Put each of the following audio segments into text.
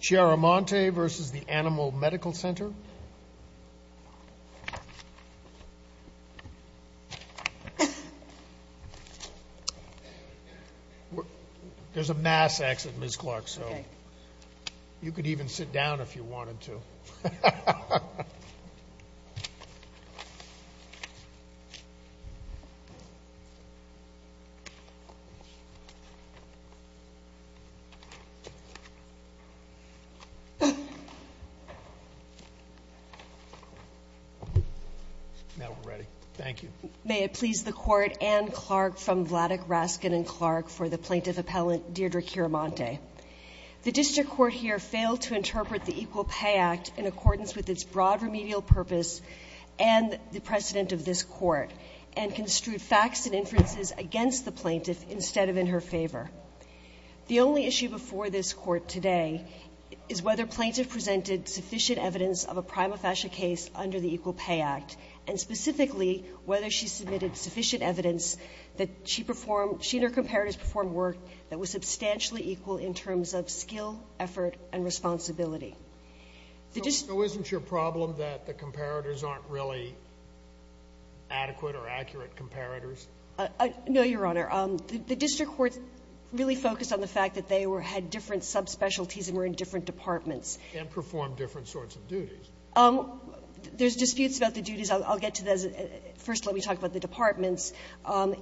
Center. There's a mass exit, Ms. Clark, so you could even sit down if you wanted to. Now we're ready. Thank you. May it please the Court, Ann Clark from Vladeck, Raskin & Clark for the plaintiff appellant Deirdre Chiaramonte. The district court here failed to interpret the Equal Pay Act in accordance with its broad remedial purpose and the precedent of this Court, and construed facts and inferences against the plaintiff instead of in her favor. The only issue before this Court today is whether plaintiff presented sufficient evidence of a prima facie case under the Equal Pay Act, and specifically whether she submitted sufficient evidence that she performed — she and her comparators performed work that was substantially equal in terms of skill, effort, and responsibility. The district — So isn't your problem that the comparators aren't really adequate or accurate comparators? No, Your Honor. The district courts really focused on the fact that they were — had different subspecialties and were in different departments. And performed different sorts of duties. There's disputes about the duties. I'll get to those. First, let me talk about the departments.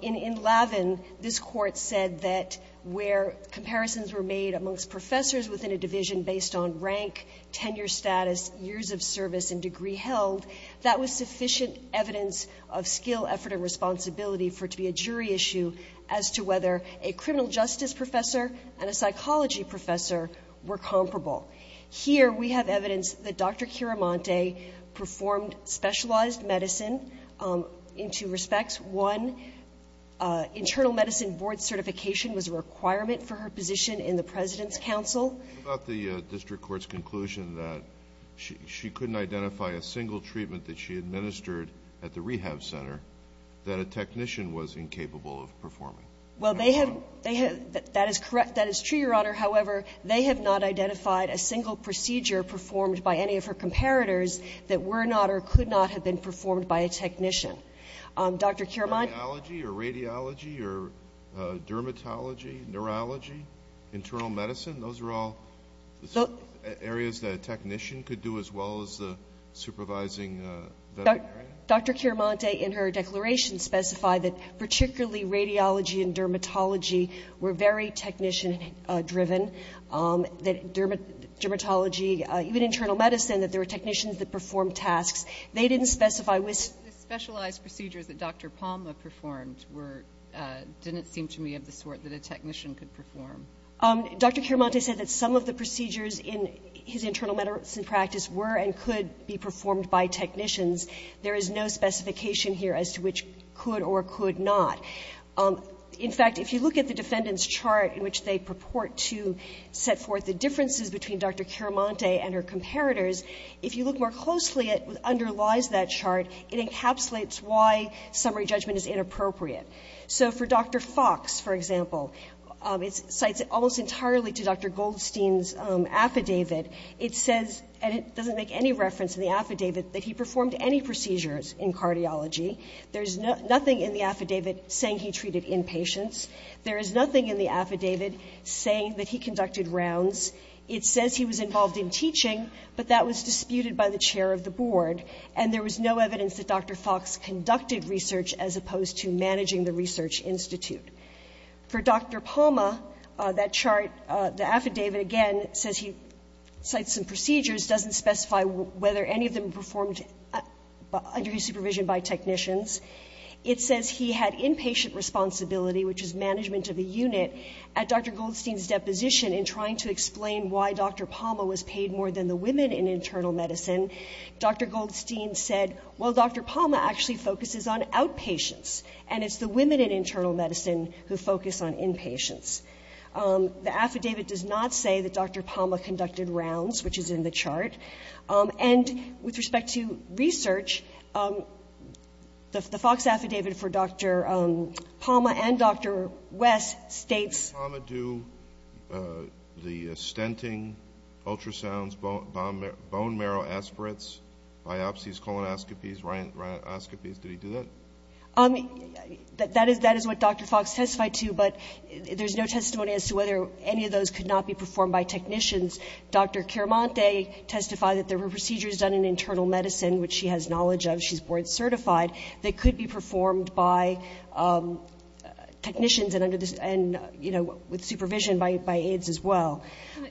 In Lavin, this Court said that where comparisons were made amongst professors within a division based on rank, tenure status, years of service, and degree held, that was sufficient evidence of skill, effort, and responsibility for it to be a jury issue as to whether a criminal justice professor and a psychology professor were comparable. Here, we have evidence that Dr. Chiaramonte performed specialized medicine in two departments. One, internal medicine board certification was a requirement for her position in the President's Council. What about the district court's conclusion that she couldn't identify a single treatment that she administered at the rehab center that a technician was incapable of performing? Well, they have — they have — that is correct. That is true, Your Honor. However, they have not identified a single procedure performed by any of her comparators that were not or could not have been performed by a technician. Dr. Chiaramonte — Radiology or radiology or dermatology, neurology, internal medicine, those are all areas that a technician could do as well as the supervising veteran? Dr. Chiaramonte in her declaration specified that particularly radiology and dermatology were very technician-driven, that dermatology, even internal medicine, that there were specialized procedures that Dr. Palma performed were — didn't seem to me of the sort that a technician could perform. Dr. Chiaramonte said that some of the procedures in his internal medicine practice were and could be performed by technicians. There is no specification here as to which could or could not. In fact, if you look at the defendant's chart in which they purport to set forth the differences between Dr. Chiaramonte and her comparators, if you look more closely, it underlies that chart. It encapsulates why summary judgment is inappropriate. So for Dr. Fox, for example, it cites almost entirely to Dr. Goldstein's affidavit. It says, and it doesn't make any reference in the affidavit, that he performed any procedures in cardiology. There is nothing in the affidavit saying he treated inpatients. There is nothing in the affidavit saying that he conducted rounds. It says he was involved in teaching, but that was disputed by the chair of the board, and there was no evidence that Dr. Fox conducted research as opposed to managing the research institute. For Dr. Palma, that chart, the affidavit, again, says he cites some procedures, doesn't specify whether any of them were performed under his supervision by technicians. It says he had inpatient responsibility, which is management of the unit, at Dr. Palma was paid more than the women in internal medicine. Dr. Goldstein said, well, Dr. Palma actually focuses on outpatients, and it's the women in internal medicine who focus on inpatients. The affidavit does not say that Dr. Palma conducted rounds, which is in the chart. And with respect to research, the Fox affidavit for Dr. Palma and Dr. West states Dr. Palma do the stenting, ultrasounds, bone marrow aspirates, biopsies, colonoscopies, rhinoscopies, did he do that? That is what Dr. Fox testified to, but there's no testimony as to whether any of those could not be performed by technicians. Dr. Chiaramonte testified that there were procedures done in internal medicine, which she has knowledge of, she's board certified, that could be performed by technicians and with supervision by aides as well.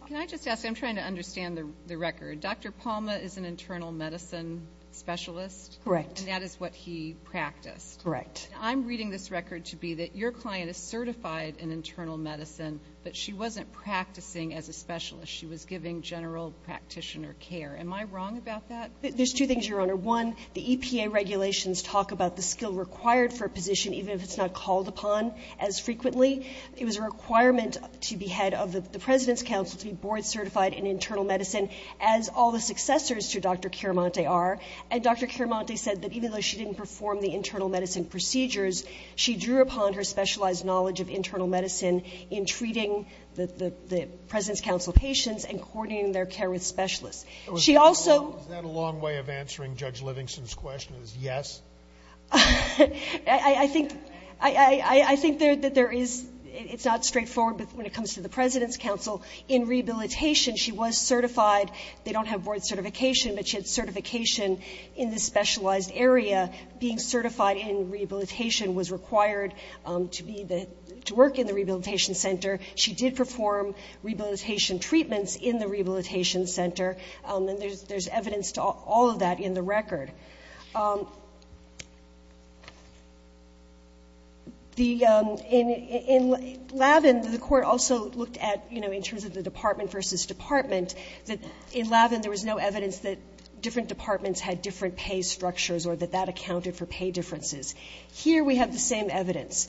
Can I just ask, I'm trying to understand the record. Dr. Palma is an internal medicine specialist? Correct. And that is what he practiced? Correct. I'm reading this record to be that your client is certified in internal medicine, but she wasn't practicing as a specialist. She was giving general practitioner care. Am I wrong about that? One, the EPA regulations talk about the skill required for a position, even if it's not called upon as frequently. It was a requirement to be head of the President's Council to be board certified in internal medicine, as all the successors to Dr. Chiaramonte are. And Dr. Chiaramonte said that even though she didn't perform the internal medicine procedures, she drew upon her specialized knowledge of internal medicine in treating the President's Council patients and coordinating their care with specialists. She also ---- Is that a long way of answering Judge Livingston's question, is yes? I think that there is ---- it's not straightforward, but when it comes to the President's Council, in rehabilitation, she was certified. They don't have board certification, but she had certification in the specialized area. Being certified in rehabilitation was required to work in the rehabilitation center. She did perform rehabilitation treatments in the rehabilitation center. And there's evidence to all of that in the record. The ---- in Lavin, the court also looked at, you know, in terms of the department versus department, that in Lavin there was no evidence that different departments had different pay structures or that that accounted for pay differences. Here we have the same evidence.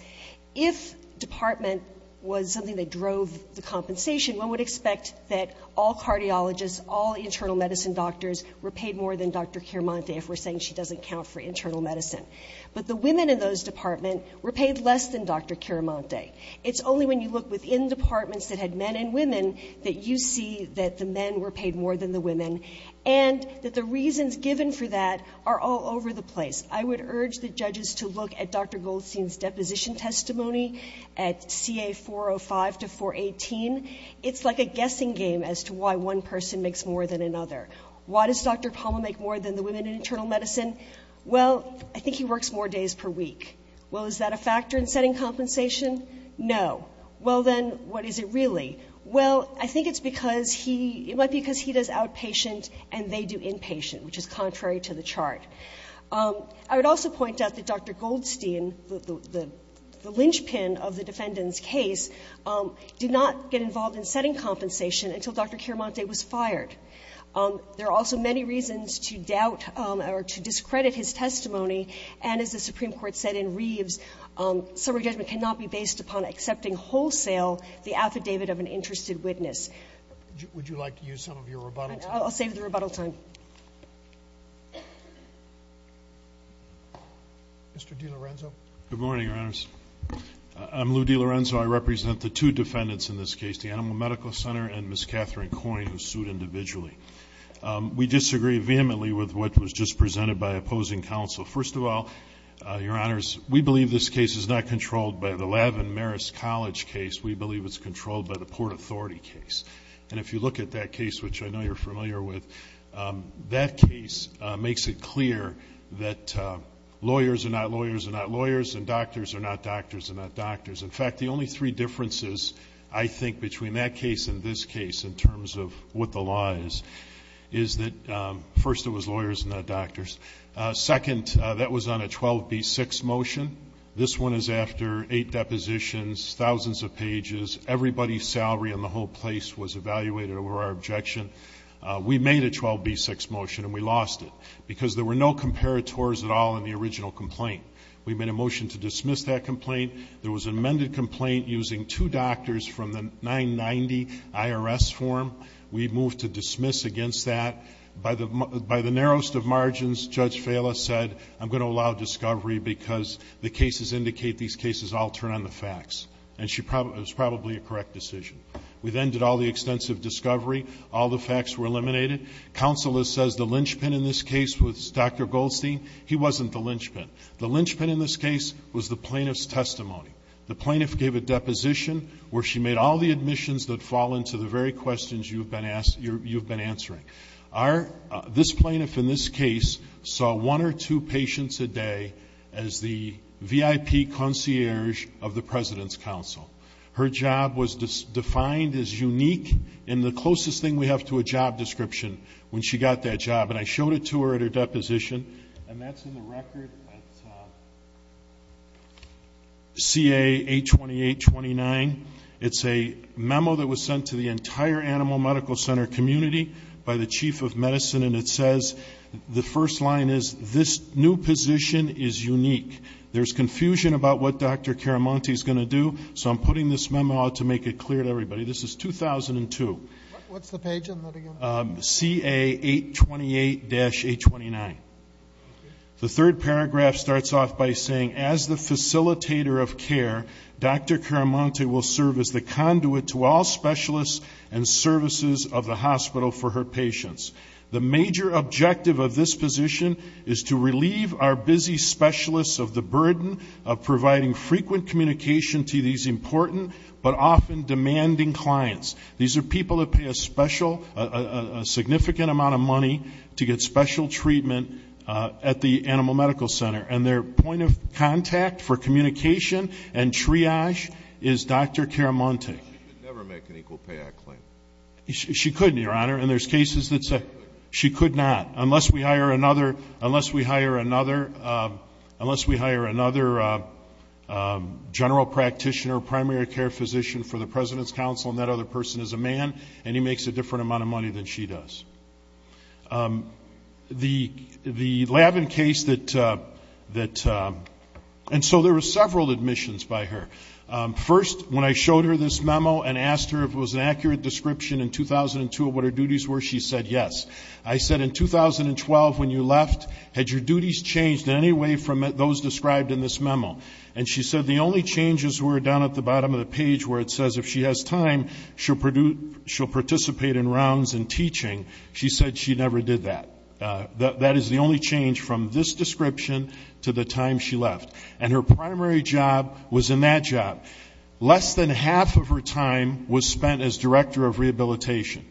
If department was something that drove the compensation, one would expect that all cardiologists, all internal medicine doctors were paid more than Dr. Chiaramonte if we're saying she doesn't count for internal medicine. But the women in those departments were paid less than Dr. Chiaramonte. It's only when you look within departments that had men and women that you see that the men were paid more than the women and that the reasons given for that are all over the place. I would urge the judges to look at Dr. Goldstein's deposition testimony at CA405 to 418. It's like a guessing game as to why one person makes more than another. Why does Dr. Palma make more than the women in internal medicine? Well, I think he works more days per week. Well, is that a factor in setting compensation? No. Well, then, what is it really? Well, I think it's because he ---- it might be because he does outpatient and they do inpatient, which is contrary to the chart. I would also point out that Dr. Goldstein, the lynchpin of the defendant's case, did not get involved in setting compensation until Dr. Chiaramonte was fired. There are also many reasons to doubt or to discredit his testimony. And as the Supreme Court said in Reeves, summary judgment cannot be based upon accepting wholesale the affidavit of an interested witness. Would you like to use some of your rebuttal time? I'll save the rebuttal time. Mr. DiLorenzo. Good morning, Your Honors. I'm Lou DiLorenzo. I represent the two defendants in this case, the Animal Medical Center and Ms. Catherine Coyne, who sued individually. We disagree vehemently with what was just presented by opposing counsel. First of all, Your Honors, we believe this case is not controlled by the Lavin-Maris College case. We believe it's controlled by the Port Authority case. And if you look at that case, which I know you're familiar with, that case makes it clear that lawyers are not lawyers are not lawyers, and doctors are not doctors are not doctors. In fact, the only three differences, I think, between that case and this case in terms of what the law is, is that first it was lawyers and not doctors. Second, that was on a 12B6 motion. This one is after eight depositions, thousands of pages. Everybody's salary and the whole place was evaluated over our objection. We made a 12B6 motion, and we lost it, because there were no comparators at all in the original complaint. We made a motion to dismiss that complaint. There was an amended complaint using two doctors from the 990 IRS form. We moved to dismiss against that. By the narrowest of margins, Judge Fala said, I'm going to allow discovery because the cases indicate these cases all turn on the facts. And it was probably a correct decision. We then did all the extensive discovery. All the facts were eliminated. Counsel has said the linchpin in this case was Dr. Goldstein. He wasn't the linchpin. The linchpin in this case was the plaintiff's testimony. The plaintiff gave a deposition where she made all the admissions that fall into the very questions you've been answering. This plaintiff in this case saw one or two patients a day as the VIP concierge of the President's Counsel. Her job was defined as unique and the closest thing we have to a job description when she got that job. And I showed it to her at her deposition. And that's in the record at CA 828-29. It's a memo that was sent to the entire Animal Medical Center community by the Chief of Medicine, and it says the first line is, this new position is unique. There's confusion about what Dr. Caramonte is going to do, so I'm putting this memo out to make it clear to everybody. This is 2002. What's the page on that again? CA 828-829. The third paragraph starts off by saying, as the facilitator of care Dr. Caramonte will serve as the conduit to all specialists and services of the hospital for her patients. The major objective of this position is to relieve our busy specialists of the burden of providing frequent communication to these important but often demanding clients. These are people that pay a special, a significant amount of money to get special treatment at the Animal Medical Center. And their point of contact for communication and triage is Dr. Caramonte. She could never make an Equal Pay Act claim. She couldn't, Your Honor. And there's cases that say she could not, unless we hire another general practitioner, a primary care physician for the President's Council, and that other person is a man, and he makes a different amount of money than she does. The Labin case that – and so there were several admissions by her. First, when I showed her this memo and asked her if it was an accurate description in 2002 of what her duties were, she said yes. I said, in 2012 when you left, had your duties changed in any way from those described in this memo? And she said the only changes were down at the bottom of the page where it says if she has time, she'll participate in rounds and teaching. She said she never did that. That is the only change from this description to the time she left. And her primary job was in that job. Less than half of her time was spent as Director of Rehabilitation.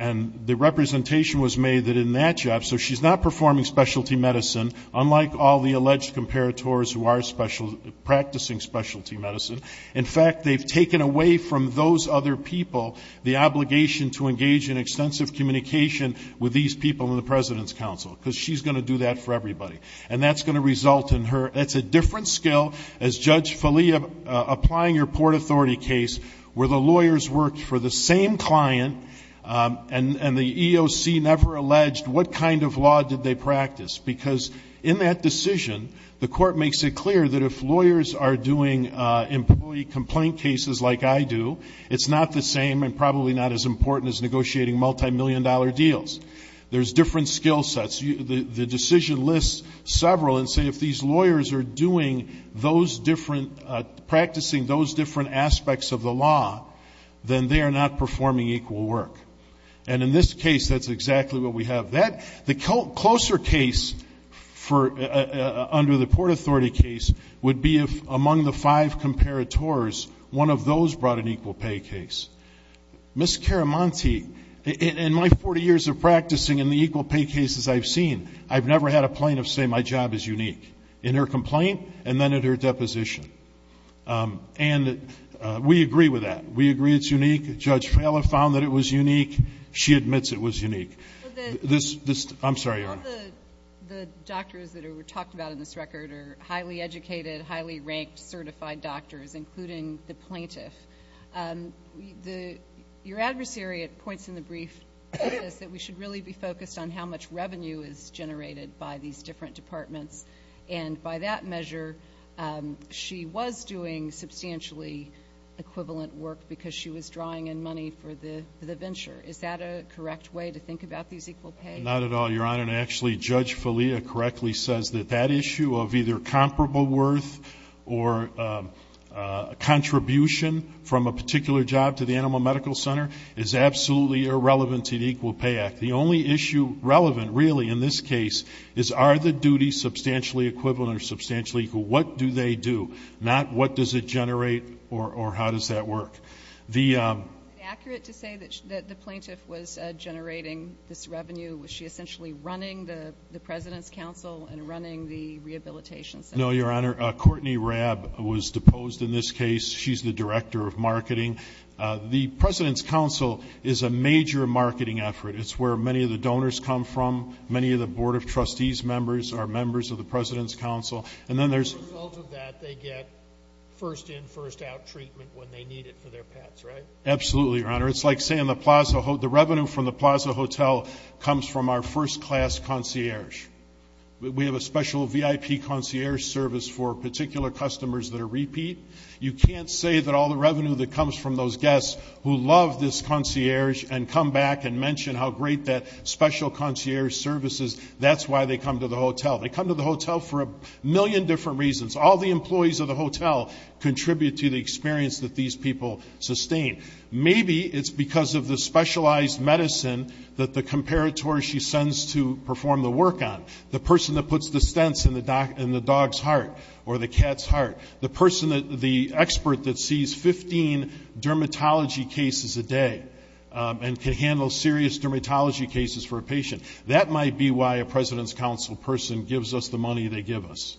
And the representation was made that in that job, so she's not performing specialty medicine, unlike all the alleged comparators who are practicing specialty medicine. In fact, they've taken away from those other people the obligation to engage in extensive communication with these people in the President's Council, because she's going to do that for everybody. And that's going to result in her – that's a different skill as Judge Falia, applying your Port Authority case where the lawyers worked for the same client and the EOC never alleged what kind of law did they practice, because in that decision the court makes it clear that if lawyers are doing employee complaint cases like I do, it's not the same and probably not as important as negotiating multimillion-dollar deals. There's different skill sets. The decision lists several and say if these lawyers are doing those different – practicing those different aspects of the law, then they are not performing equal work. And in this case, that's exactly what we have. The closer case under the Port Authority case would be if among the five comparators, one of those brought an equal pay case. Ms. Caramonti, in my 40 years of practicing in the equal pay cases I've seen, I've never had a plaintiff say my job is unique in her complaint and then at her deposition. And we agree with that. We agree it's unique. Judge Falia found that it was unique. She admits it was unique. I'm sorry, Your Honor. All the doctors that were talked about in this record are highly educated, highly ranked, certified doctors, including the plaintiff. Your adversary points in the brief that we should really be focused on how much revenue is generated by these different departments. And by that measure, she was doing substantially equivalent work because she was drawing in money for the venture. Is that a correct way to think about these equal pay? Not at all, Your Honor. And actually, Judge Falia correctly says that that issue of either comparable worth or contribution from a particular job to the animal medical center is absolutely irrelevant to the Equal Pay Act. The only issue relevant really in this case is are the duties substantially equivalent or substantially equal? What do they do? Not what does it generate or how does that work? Is it accurate to say that the plaintiff was generating this revenue? Was she essentially running the President's Council and running the Rehabilitation Center? No, Your Honor. Courtney Rabb was deposed in this case. She's the Director of Marketing. The President's Council is a major marketing effort. It's where many of the donors come from. Many of the Board of Trustees members are members of the President's Council. As a result of that, they get first-in, first-out treatment when they need it for their pets, right? Absolutely, Your Honor. It's like saying the revenue from the Plaza Hotel comes from our first-class concierge. We have a special VIP concierge service for particular customers that are repeat. You can't say that all the revenue that comes from those guests who love this concierge and come back and mention how great that special concierge service is, that's why they come to the hotel. They come to the hotel for a million different reasons. All the employees of the hotel contribute to the experience that these people sustain. Maybe it's because of the specialized medicine that the comparator she sends to perform the work on, the person that puts the stents in the dog's heart or the cat's heart, the expert that sees 15 dermatology cases a day and can handle serious dermatology cases for a patient. That might be why a President's Council person gives us the money they give us.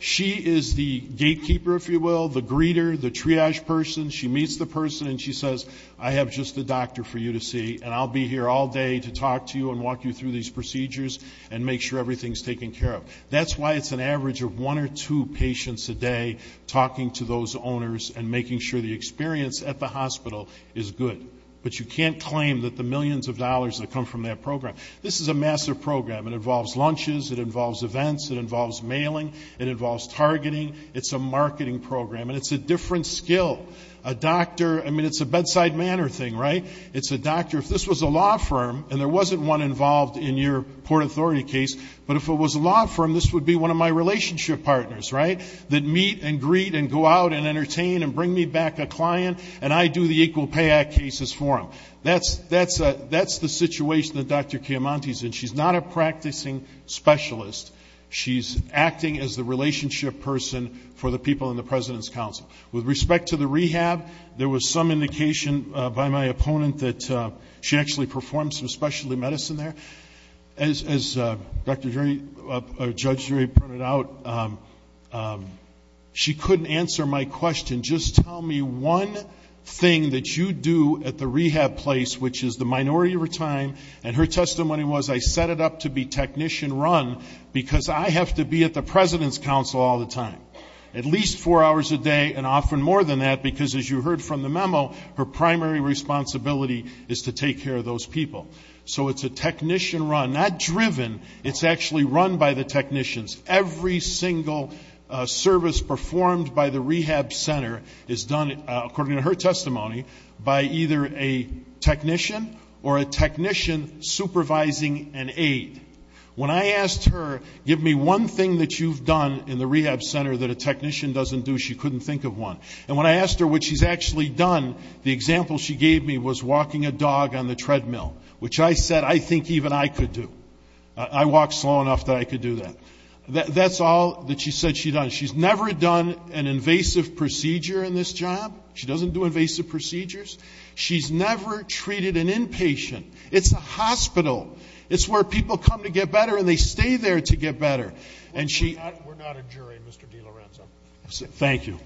She is the gatekeeper, if you will, the greeter, the triage person. She meets the person and she says, I have just a doctor for you to see, and I'll be here all day to talk to you and walk you through these procedures and make sure everything's taken care of. That's why it's an average of one or two patients a day talking to those owners and making sure the experience at the hospital is good. But you can't claim that the millions of dollars that come from that program. This is a massive program. It involves lunches. It involves events. It involves mailing. It involves targeting. It's a marketing program, and it's a different skill. A doctor, I mean, it's a bedside manner thing, right? It's a doctor. If this was a law firm, and there wasn't one involved in your Port Authority case, but if it was a law firm, this would be one of my relationship partners, right, that meet and greet and go out and entertain and bring me back a client, and I do the Equal Pay Act cases for them. That's the situation that Dr. Chiamonti's in. She's not a practicing specialist. She's acting as the relationship person for the people in the President's Council. With respect to the rehab, there was some indication by my opponent that she actually performed some specialty medicine there. As Judge Drury pointed out, she couldn't answer my question. Just tell me one thing that you do at the rehab place, which is the minority of her time, and her testimony was, I set it up to be technician run, because I have to be at the President's Council all the time, at least four hours a day, and often more than that, because, as you heard from the memo, her primary responsibility is to take care of those people. So it's a technician run, not driven. It's actually run by the technicians. Every single service performed by the rehab center is done, according to her testimony, by either a technician or a technician supervising an aide. When I asked her, give me one thing that you've done in the rehab center that a technician doesn't do, she couldn't think of one. And when I asked her what she's actually done, the example she gave me was walking a dog on the treadmill, which I said I think even I could do. I walked slow enough that I could do that. That's all that she said she'd done. She's never done an invasive procedure in this job. She doesn't do invasive procedures. She's never treated an inpatient. It's a hospital. It's where people come to get better, and they stay there to get better. And she — We're not a jury, Mr. DeLorenzo. Thank you.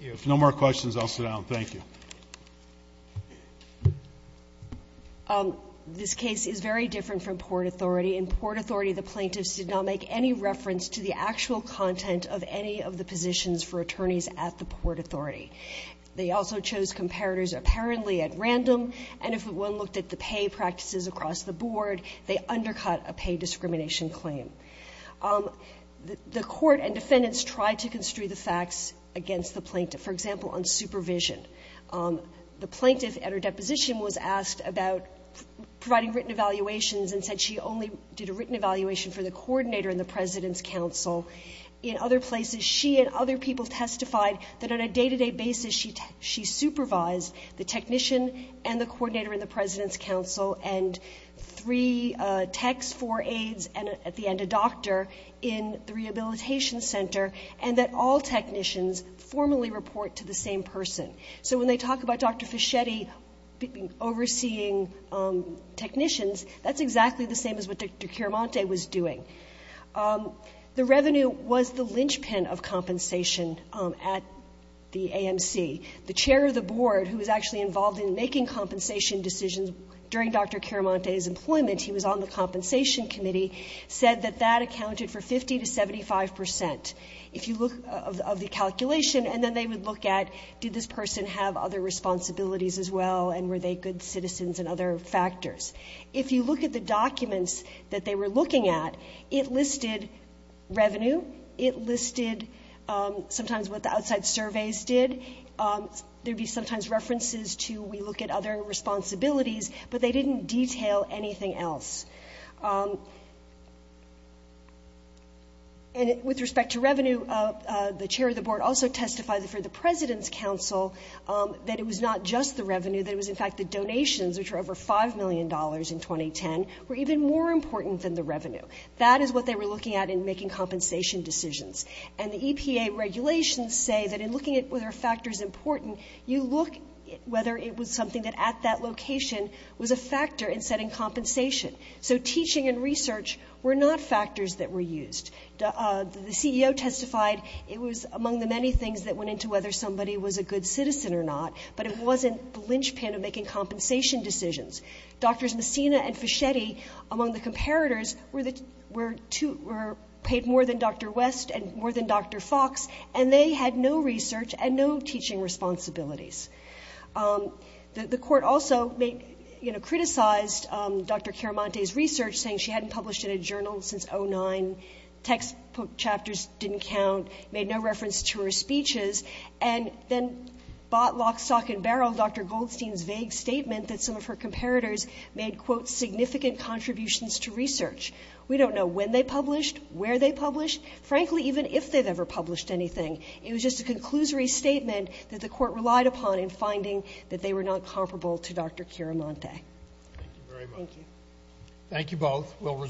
If no more questions, I'll sit down. Thank you. This case is very different from Port Authority. In Port Authority, the plaintiffs did not make any reference to the actual content of any of the positions for attorneys at the Port Authority. They also chose comparators apparently at random, and if one looked at the pay practices across the board, they undercut a pay discrimination claim. The court and defendants tried to construe the facts against the plaintiff, for example, on supervision. The plaintiff at her deposition was asked about providing written evaluations and said she only did a written evaluation for the coordinator and the president's counsel. In other places, she and other people testified that on a day-to-day basis, she supervised the technician and the coordinator and the president's counsel and three techs, four aides, and at the end, a doctor in the rehabilitation center, and that all technicians formally report to the same person. So when they talk about Dr. Fischetti overseeing technicians, that's exactly the same as what Dr. Chiaramonte was doing. The revenue was the linchpin of compensation at the AMC. The chair of the board, who was actually involved in making compensation decisions during Dr. Chiaramonte's employment, he was on the compensation committee, said that that accounted for 50% to 75%. If you look of the calculation, and then they would look at did this person have other responsibilities as well, and were they good citizens and other factors. If you look at the documents that they were looking at, it listed revenue. It listed sometimes what the outside surveys did. There would be sometimes references to we look at other responsibilities, but they didn't detail anything else. And with respect to revenue, the chair of the board also testified for the president's counsel that it was not just the revenue, that it was in fact the donations, which were over $5 million in 2010, were even more important than the revenue. That is what they were looking at in making compensation decisions. And the EPA regulations say that in looking at whether a factor is important, you look whether it was something that at that location was a factor in setting compensation. So teaching and research were not factors that were used. The CEO testified it was among the many things that went into whether somebody was a good citizen or not, but it wasn't the linchpin of making compensation decisions. Drs. Messina and Fischetti, among the comparators, were paid more than Dr. West and more than Dr. Fox, and they had no research and no teaching responsibilities. The court also, you know, criticized Dr. Caramante's research, saying she hadn't published in a journal since 2009, textbook chapters didn't count, made no reference to her speeches, and then bought lock, stock, and barrel Dr. Goldstein's vague statement that some of her comparators made, quote, significant contributions to research. We don't know when they published, where they published, frankly, even if they've ever published anything. It was just a conclusory statement that the court relied upon in finding that they were not comparable to Dr. Caramante. Thank you.